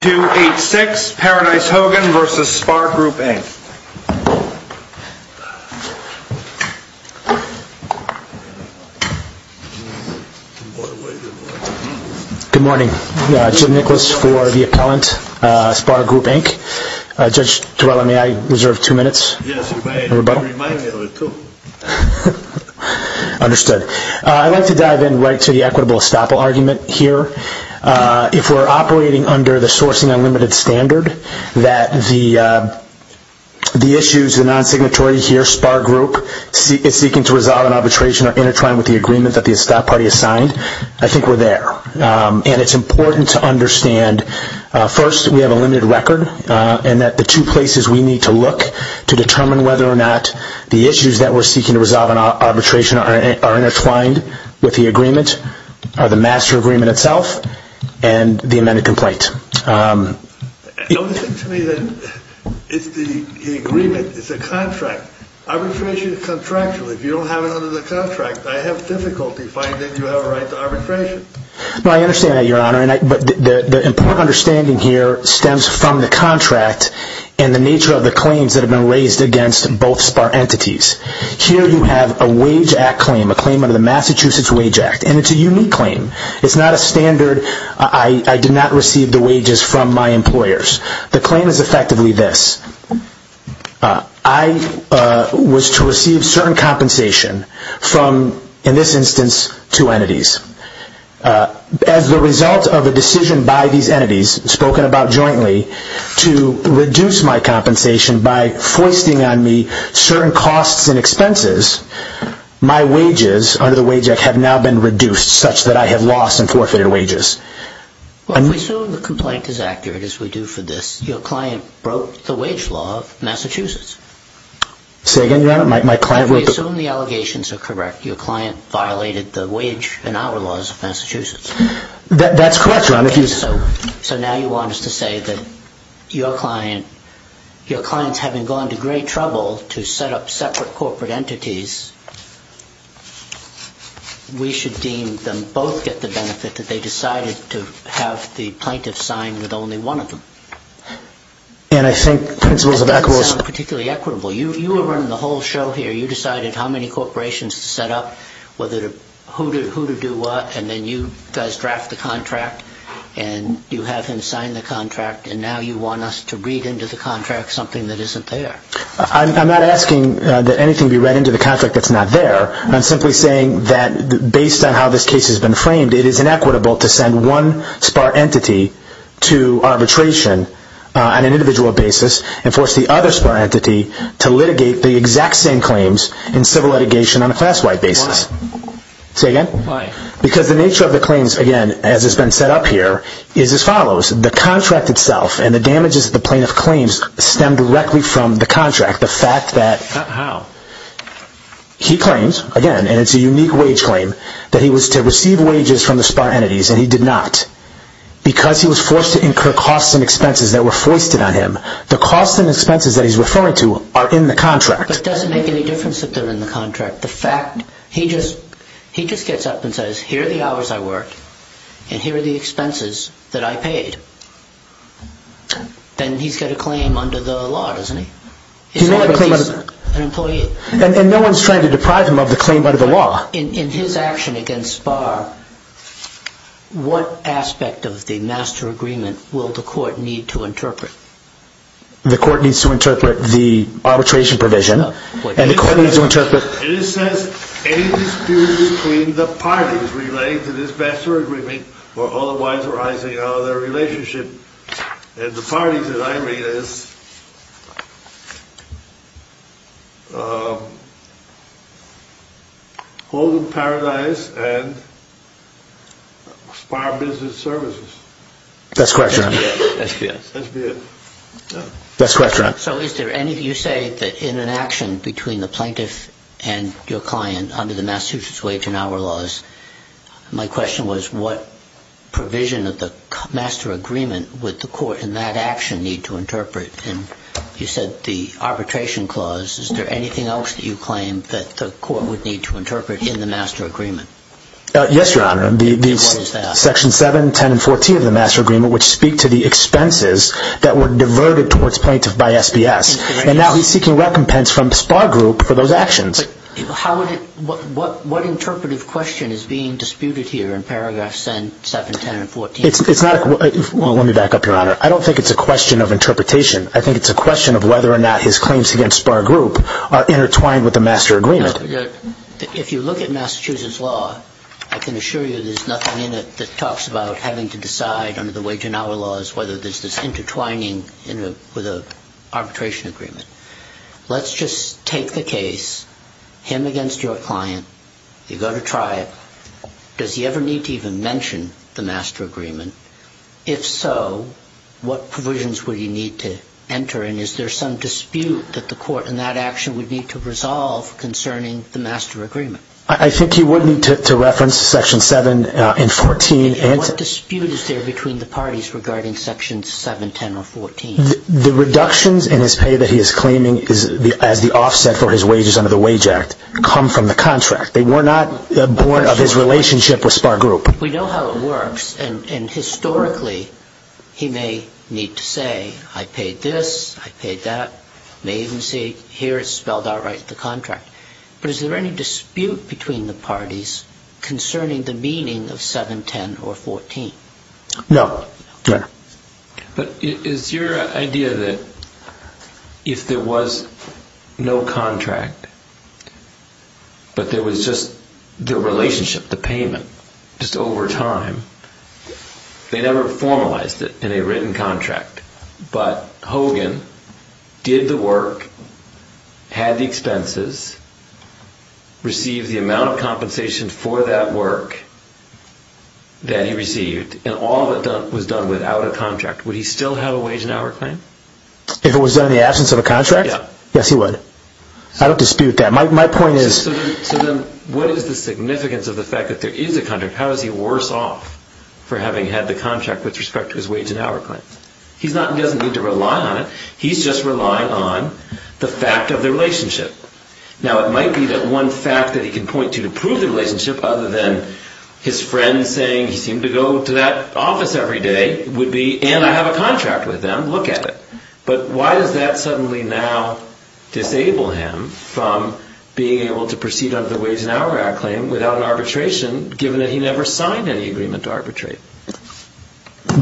Good morning, Jim Nicholas for the Appellant, SPAR Group, Inc. Judge Torello, may I reserve two minutes? Yes, you may. I'd like to dive in right to the equitable estoppel argument here. If we're operating under the Sourcing Unlimited Standard, that the non-signatory here, SPAR Group, is seeking to resolve an arbitration, are intertwined with the agreement that the Estoppel Party has signed, I think we're there. And it's important to understand, first, we have a limited record, and that the two places we need to look to determine whether or not the issues that we're seeking to resolve an arbitration are intertwined with the agreement are the The only thing to me is that the agreement is a contract. Arbitration is contractual. If you don't have it under the contract, I have difficulty finding that you have a right to arbitration. I understand that, Your Honor, but the important understanding here stems from the contract and the nature of the claims that have been raised against both SPAR entities. Here you have a wage act claim, a claim under the Massachusetts Wage Act, and it's a unique claim. It's not a standard, I did not receive the wages from my employers. The claim is effectively this. I was to receive certain compensation from, in this instance, two entities. As the result of a decision by these entities, spoken about jointly, to reduce my compensation by foisting on me certain costs and expenses, my wages under the wage act have now been reduced such that I have lost and forfeited wages. Well, if we assume the complaint is accurate, as we do for this, your client broke the wage law of Massachusetts. Say again, Your Honor? If we assume the allegations are correct, your client violated the wage and hour laws of Massachusetts. That's correct, Your Honor. So now you want us to say that your clients, having gone to great trouble to set up separate entities, we should deem them both get the benefit that they decided to have the plaintiff sign with only one of them. And I think principles of equitable That doesn't sound particularly equitable. You were running the whole show here. You decided how many corporations to set up, who to do what, and then you guys draft the contract and you have him sign the contract, and now you want us to read into the contract something that isn't there. I'm not asking that anything be read into the contract that's not there. I'm simply saying that based on how this case has been framed, it is inequitable to send one SPAR entity to arbitration on an individual basis and force the other SPAR entity to litigate the exact same claims in civil litigation on a class-wide basis. Why? Say again? Why? Because the nature of the claims, again, as has been set up here, is as follows. The How? He claims, again, and it's a unique wage claim, that he was to receive wages from the SPAR entities, and he did not. Because he was forced to incur costs and expenses that were foisted on him. The costs and expenses that he's referring to are in the contract. But it doesn't make any difference if they're in the contract. The fact, he just gets up and says, here are the hours I worked, and here are the expenses that I paid. Then he's going to claim under the law, doesn't he? He may have a claim under the law. He's an employee. And no one's trying to deprive him of the claim under the law. In his action against SPAR, what aspect of the master agreement will the court need to interpret? The court needs to interpret the arbitration provision, and the court needs to interpret It says, any dispute between the parties relating to this master agreement or otherwise arising Now, the relationship in the parties that I read is Holden Paradise and SPAR Business Services. That's correct, John. SPF. SPF. That's correct, John. So is there any, you say that in an action between the plaintiff and your client under the Massachusetts wage and hour laws, my question was, what provision of the master agreement would the court in that action need to interpret? And you said the arbitration clause. Is there anything else that you claim that the court would need to interpret in the master agreement? Yes, Your Honor. What is that? Section 7, 10, and 14 of the master agreement, which speak to the expenses that were diverted towards plaintiff by SBS. And now he's seeking recompense from SPAR Group for those actions. But what interpretive question is being disputed here in paragraphs 7, 10, and 14? Well, let me back up, Your Honor. I don't think it's a question of interpretation. I think it's a question of whether or not his claims against SPAR Group are intertwined with the master agreement. If you look at Massachusetts law, I can assure you there's nothing in it that talks about having to decide under the wage and hour laws whether there's this intertwining with an arbitration agreement. Let's just take the case, him against your client. You go to trial. Does he ever need to even mention the master agreement? If so, what provisions would he need to enter? And is there some dispute that the court in that action would need to resolve concerning the master agreement? I think he would need to reference section 7 and 14. What dispute is there between the parties regarding section 7, 10, or 14? The reductions in his pay that he is claiming as the offset for his wages under the Wage Act come from the contract. They were not born of his relationship with SPAR Group. We know how it works. And historically, he may need to say, I paid this, I paid that. He may even say, here it's spelled out right in the contract. But is there any dispute between the parties concerning the meaning of 7, 10, or 14? No. But is your idea that if there was no contract, but there was just the relationship, the payment, just over time, they never formalized it in a written contract, but Hogan did the work, had the expenses, received the amount of compensation for that work that he received, and all of it was done without a contract, would he still have a wage and hour claim? If it was done in the absence of a contract? Yeah. Yes, he would. I don't dispute that. My point is... So then, what is the significance of the fact that there is a contract? How does he worse off for having had the contract with respect to his wage and hour claim? He doesn't need to rely on it. He's just relying on the fact of the relationship. Now, it might be that one fact that he can point to to prove the relationship, other than his friend saying he seemed to go to that office every day, would be, and I have a contract with them, look at it. But why does that suddenly now disable him from being able to proceed under the wage and hour claim without an arbitration, given that he never signed any agreement to arbitrate?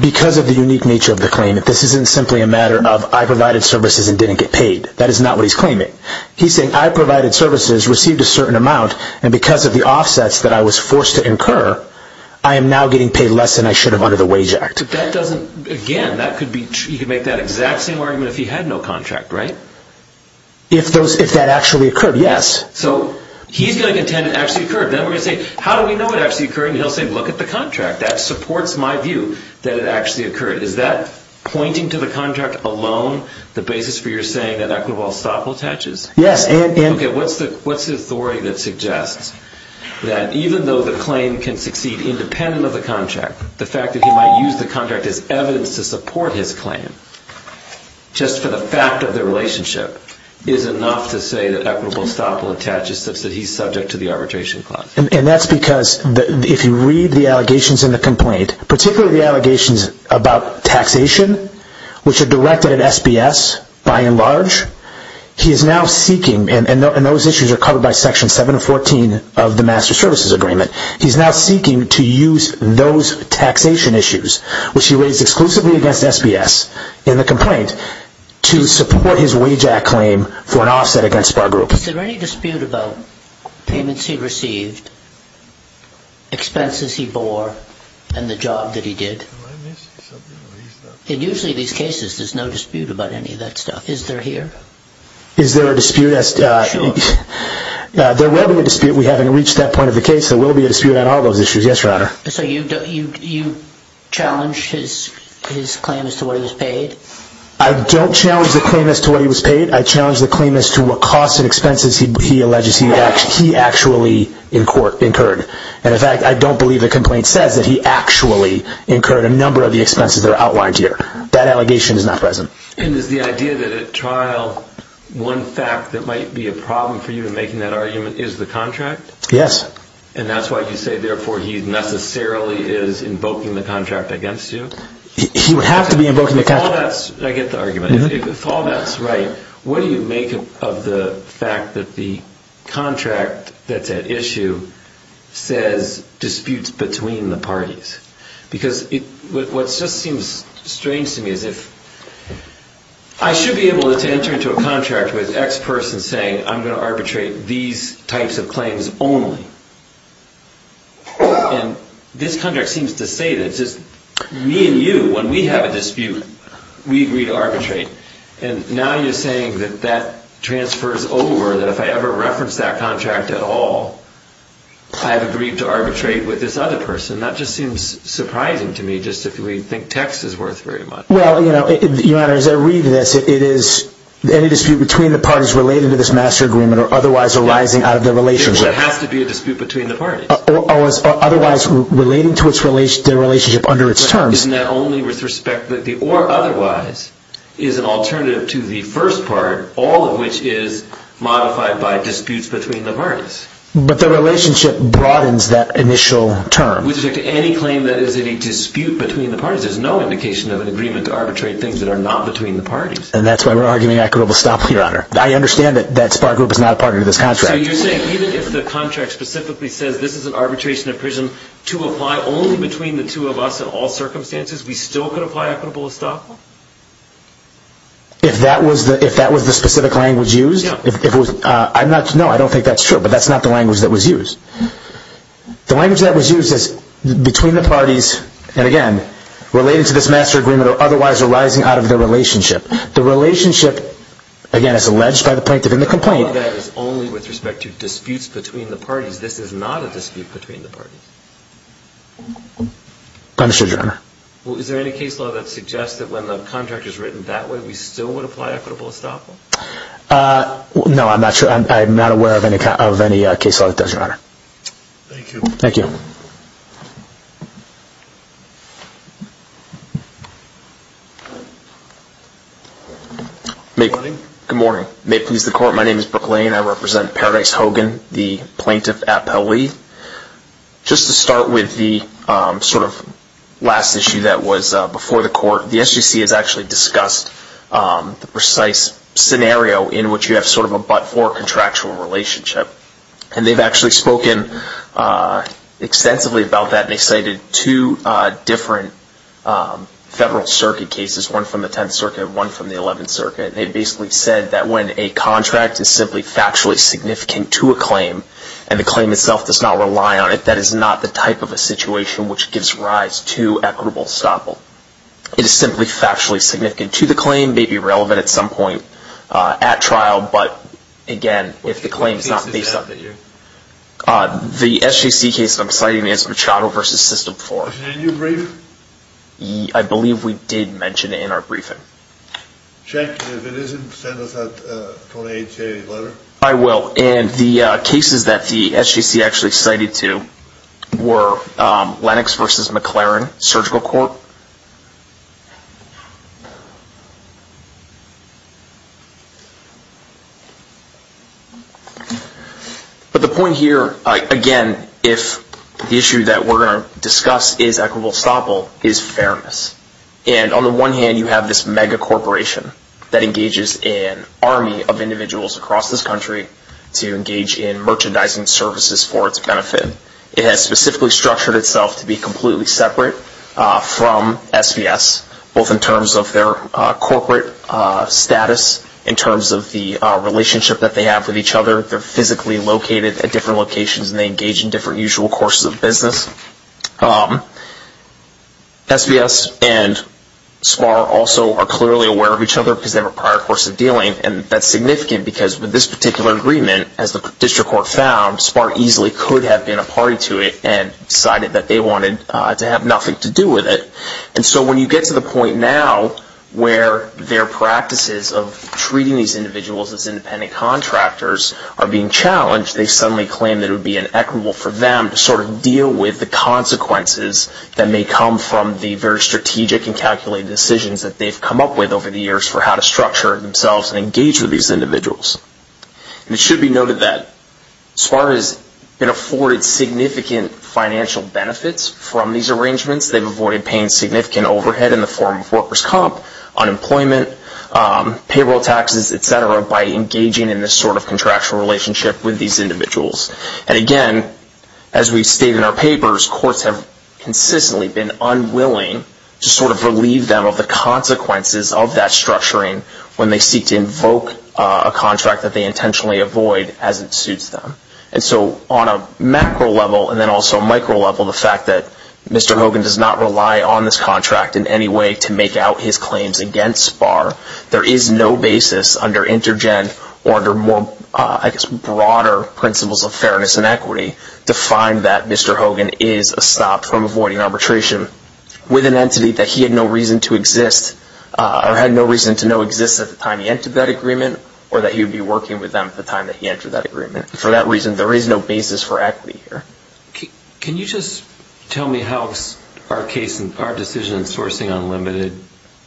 Because of the unique nature of the claim. This isn't simply a matter of, I provided services and didn't get paid. That is not what he's claiming. He's saying, I provided services, received a certain amount, and because of the offsets that I was forced to incur, I am now getting paid less than I should have under the wage act. But that doesn't... Again, that could be... He could make that exact same argument if he had no contract, right? If that actually occurred, yes. So, he's going to contend it actually occurred. Then we're going to say, how do we know it actually occurred? And he'll say, look at the contract. That supports my view that it actually occurred. Is that pointing to the contract alone? The basis for your saying that Equinoble Staple attaches? Yes. Okay, what's the authority that suggests that even though the claim can succeed independent of the contract, the fact that he might use the contract as evidence to support his claim, just for the fact of the relationship, is enough to say that Equinoble Staple attaches such that he's subject to the arbitration clause? And that's because, if you read the allegations in the complaint, particularly the allegations about taxation, which are directed at SBS by and large, he is now seeking, and those issues are covered by Section 714 of the Master Services Agreement, he's now seeking to use those taxation issues, which he raised exclusively against SBS, in the complaint, to support his wage act claim for an offset against Spar Group. Is there any dispute about payments he received, expenses he bore, and the job that he did? In usually these cases, there's no dispute about any of that stuff. Is there here? Is there a dispute? Sure. There will be a dispute. We haven't reached that point of the case. There will be a dispute on all those issues. Yes, Your Honor. So you challenge his claim as to what he was paid? I don't challenge the claim as to what he was paid. I challenge the claim as to what costs and expenses he alleges he actually incurred. And, in fact, I don't believe the complaint says that he actually incurred a number of the expenses that are outlined here. That allegation is not present. And is the idea that at trial, one fact that might be a problem for you in making that argument, is the contract? Yes. And that's why you say, therefore, he necessarily is invoking the contract against you? He would have to be invoking the contract. I get the argument. If all that's right, what do you make of the fact that the contract that's at issue says disputes between the parties? Because what just seems strange to me is if I should be able to enter into a contract with X person saying, I'm going to arbitrate these types of claims only. And this contract seems to say that it's just me and you, when we have a dispute, we agree to arbitrate. And now you're saying that that transfers over, that if I ever reference that contract at all, I have agreed to arbitrate with this other person. That just seems surprising to me, just if we think text is worth very much. Well, you know, Your Honor, as I read this, it is any dispute between the parties related to this master agreement or otherwise arising out of the relationship. So it has to be a dispute between the parties. Otherwise relating to the relationship under its terms. And that only with respect to the or otherwise is an alternative to the first part, all of which is modified by disputes between the parties. But the relationship broadens that initial term. With respect to any claim that is a dispute between the parties, there's no indication of an agreement to arbitrate things that are not between the parties. And that's why we're arguing equitable stock, Your Honor. I understand that that SPAR group is not a partner to this contract. So you're saying even if the contract specifically says this is an arbitration at prison, to apply only between the two of us in all circumstances, we still could apply equitable stock? If that was the specific language used? Yeah. No, I don't think that's true, but that's not the language that was used. The language that was used is between the parties, and again, related to this master agreement or otherwise arising out of the relationship. The relationship, again, is alleged by the plaintiff in the complaint. The feedback is only with respect to disputes between the parties. This is not a dispute between the parties. Understood, Your Honor. Well, is there any case law that suggests that when the contract is written that way, we still would apply equitable stock? No, I'm not aware of any case law that does, Your Honor. Thank you. Thank you. Good morning. May it please the Court, my name is Brooke Lane. I represent Paradise Hogan, the Plaintiff Appellee. Just to start with the sort of last issue that was before the Court, the SGC has actually discussed the precise scenario in which you have sort of a but-for contractual relationship. And they've actually spoken extensively about that. They cited two different Federal Circuit cases, one from the 10th Circuit, one from the 11th Circuit. They basically said that when a contract is simply factually significant to a claim and the claim itself does not rely on it, that is not the type of a situation which gives rise to equitable stoppel. It is simply factually significant to the claim, may be relevant at some point at trial, but, again, if the claim is not based on it. The SGC case that I'm citing is Machado v. System IV. Was it in your brief? I believe we did mention it in our briefing. Okay. Cenk, if it isn't, send us that 2880 letter. I will. And the cases that the SGC actually cited to were Lennox v. McLaren Surgical Court. But the point here, again, if the issue that we're going to discuss is equitable stoppel, is fairness. And on the one hand, you have this mega corporation that engages an army of individuals across this country to engage in merchandising services for its benefit. It has specifically structured itself to be completely separate from SBS, both in terms of their corporate status, in terms of the relationship that they have with each other. They're physically located at different locations and they engage in different usual courses of business. SBS and SPAR also are clearly aware of each other because they have a prior course of dealing. And that's significant because with this particular agreement, as the district court found, SPAR easily could have been a party to it and decided that they wanted to have nothing to do with it. And so when you get to the point now where their practices of treating these individuals as independent contractors are being challenged, they suddenly claim that it would be inequitable for them to sort of deal with the consequences that may come from the very strategic and calculated decisions that they've come up with over the years for how to structure themselves and engage with these individuals. And it should be noted that SPAR has been afforded significant financial benefits from these arrangements. They've avoided paying significant overhead in the form of workers' comp, unemployment, payroll taxes, etc., by engaging in this sort of contractual relationship with these individuals. And again, as we state in our papers, courts have consistently been unwilling to sort of relieve them of the consequences of that structuring when they seek to invoke a contract that they intentionally avoid as it suits them. And so on a macro level and then also micro level, the fact that Mr. Hogan does not rely on this contract in any way to make out his claims against SPAR, there is no basis under InterGen or under more, I guess, broader principles of fairness and equity to find that Mr. Hogan is stopped from avoiding arbitration with an entity that he had no reason to exist or had no reason to know exists at the time he entered that agreement or that he would be working with them at the time that he entered that agreement. For that reason, there is no basis for equity here. Can you just tell me how our decision in Sourcing Unlimited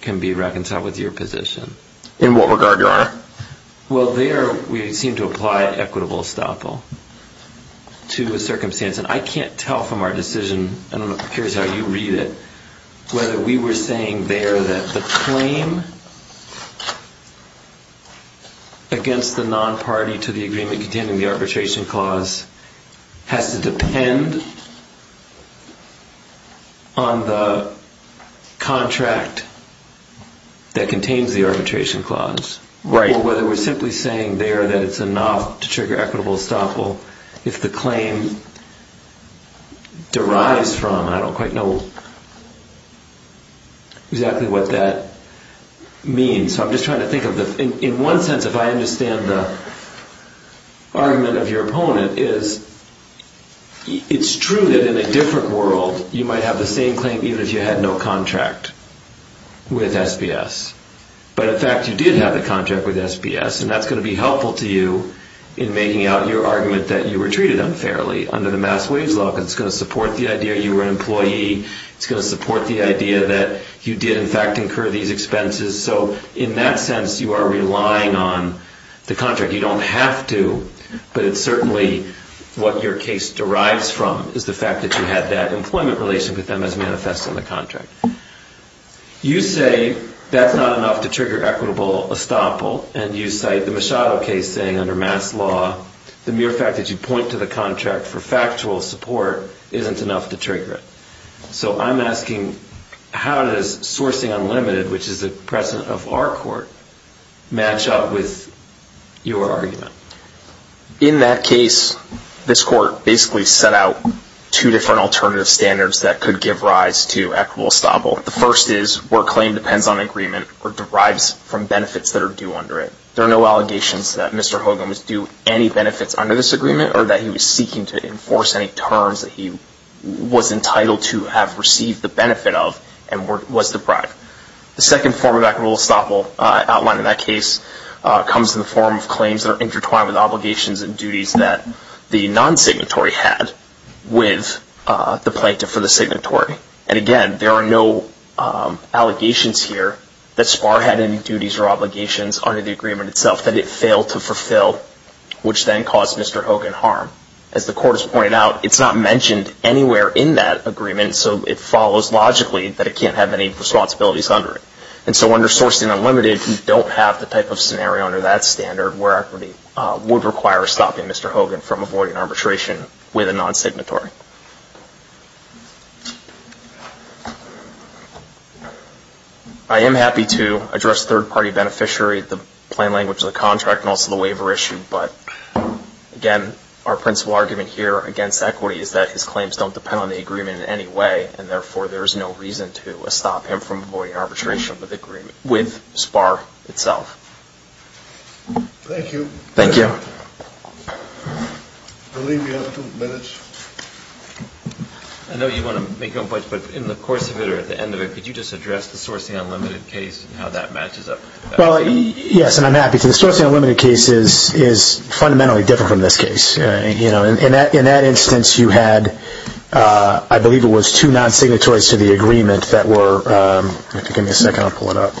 can be reconciled with your position? In what regard, Your Honor? Well, there we seem to apply equitable estoppel to a circumstance. And I can't tell from our decision, and I'm curious how you read it, whether we were saying there that the claim against the non-party to the agreement containing the arbitration clause has to depend on the contract that contains the arbitration clause. Right. Or whether we're simply saying there that it's enough to trigger equitable estoppel if the claim derives from, and I don't quite know exactly what that means. So I'm just trying to think of the... Because if I understand the argument of your opponent, it's true that in a different world, you might have the same claim even if you had no contract with SBS. But in fact, you did have the contract with SBS, and that's going to be helpful to you in making out your argument that you were treated unfairly under the Mass Wage Law, because it's going to support the idea you were an employee. It's going to support the idea that you did, in fact, incur these expenses. So in that sense, you are relying on the contract. You don't have to, but it's certainly what your case derives from, is the fact that you had that employment relation with them as manifest in the contract. You say that's not enough to trigger equitable estoppel, and you cite the Machado case saying under Mass Law, the mere fact that you point to the contract for factual support isn't enough to trigger it. So I'm asking, how does Sourcing Unlimited, which is the president of our court, match up with your argument? In that case, this court basically set out two different alternative standards that could give rise to equitable estoppel. The first is where a claim depends on an agreement or derives from benefits that are due under it. There are no allegations that Mr. Hogan was due any benefits under this agreement, or that he was seeking to enforce any terms that he was entitled to have received the benefit of and was deprived. The second form of equitable estoppel outlined in that case comes in the form of claims that are intertwined with obligations and duties that the non-signatory had with the plaintiff for the signatory. And again, there are no allegations here that Sparr had any duties or obligations under the agreement itself that it failed to fulfill, which then caused Mr. Hogan harm. As the court has pointed out, it's not mentioned anywhere in that agreement, so it follows logically that it can't have any responsibilities under it. And so under Sourcing Unlimited, you don't have the type of scenario under that standard where equity would require stopping Mr. Hogan from avoiding arbitration with a non-signatory. I am happy to address third-party beneficiary, the plain language of the contract, and also the waiver issue. But again, our principal argument here against equity is that his claims don't depend on the agreement in any way, and therefore there is no reason to stop him from avoiding arbitration with Sparr itself. Thank you. Thank you. I'll leave you with two minutes. I know you want to make your own points, but in the course of it or at the end of it, could you just address the Sourcing Unlimited case and how that matches up to that? Yes, and I'm happy to. The Sourcing Unlimited case is fundamentally different from this case. In that instance, you had, I believe it was, two non-signatories to the agreement that were. Give me a second. I'll pull it up.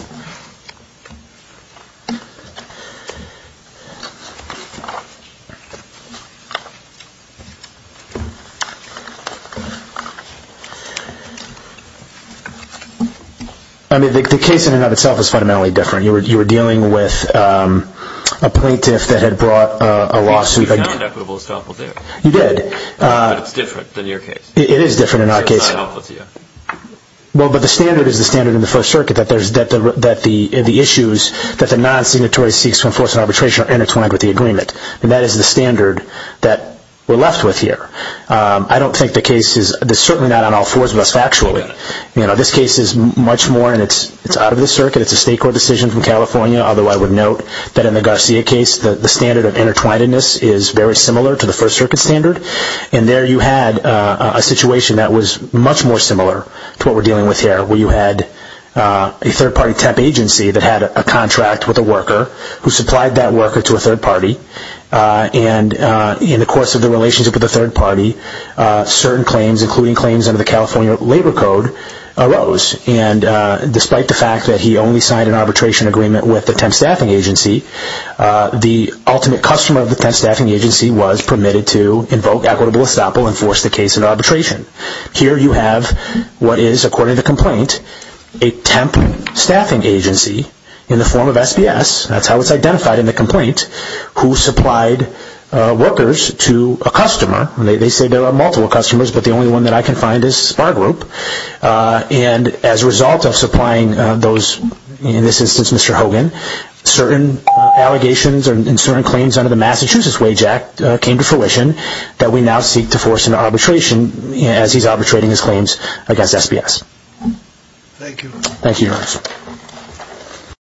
The case in and of itself is fundamentally different. You were dealing with a plaintiff that had brought a lawsuit. You did. But it's different than your case. It is different in our case. But the standard is the standard in the First Circuit, that the issues that the non-signatory seeks to enforce in arbitration are intertwined with the agreement. And that is the standard that we're left with here. I don't think the case is, it's certainly not on all fours of us factually. This case is much more, and it's out of the circuit. It's a state court decision from California, although I would note that in the Garcia case, the standard of intertwinedness is very similar to the First Circuit standard. And there you had a situation that was much more similar to what we're dealing with here, where you had a third party temp agency that had a contract with a worker who supplied that worker to a third party. And in the course of the relationship with the third party, certain claims, including claims under the California Labor Code, arose. And despite the fact that he only signed an arbitration agreement with the temp staffing agency, the ultimate customer of the temp staffing agency was permitted to invoke equitable estoppel and force the case into arbitration. Here you have what is, according to the complaint, a temp staffing agency in the form of SBS. That's how it's identified in the complaint, who supplied workers to a customer. They say there are multiple customers, but the only one that I can find is Spar Group. And as a result of supplying those, in this instance, Mr. Hogan, certain allegations and certain claims under the Massachusetts Wage Act came to fruition that we now seek to force into arbitration as he's arbitrating his claims against SBS. Thank you, Your Honor.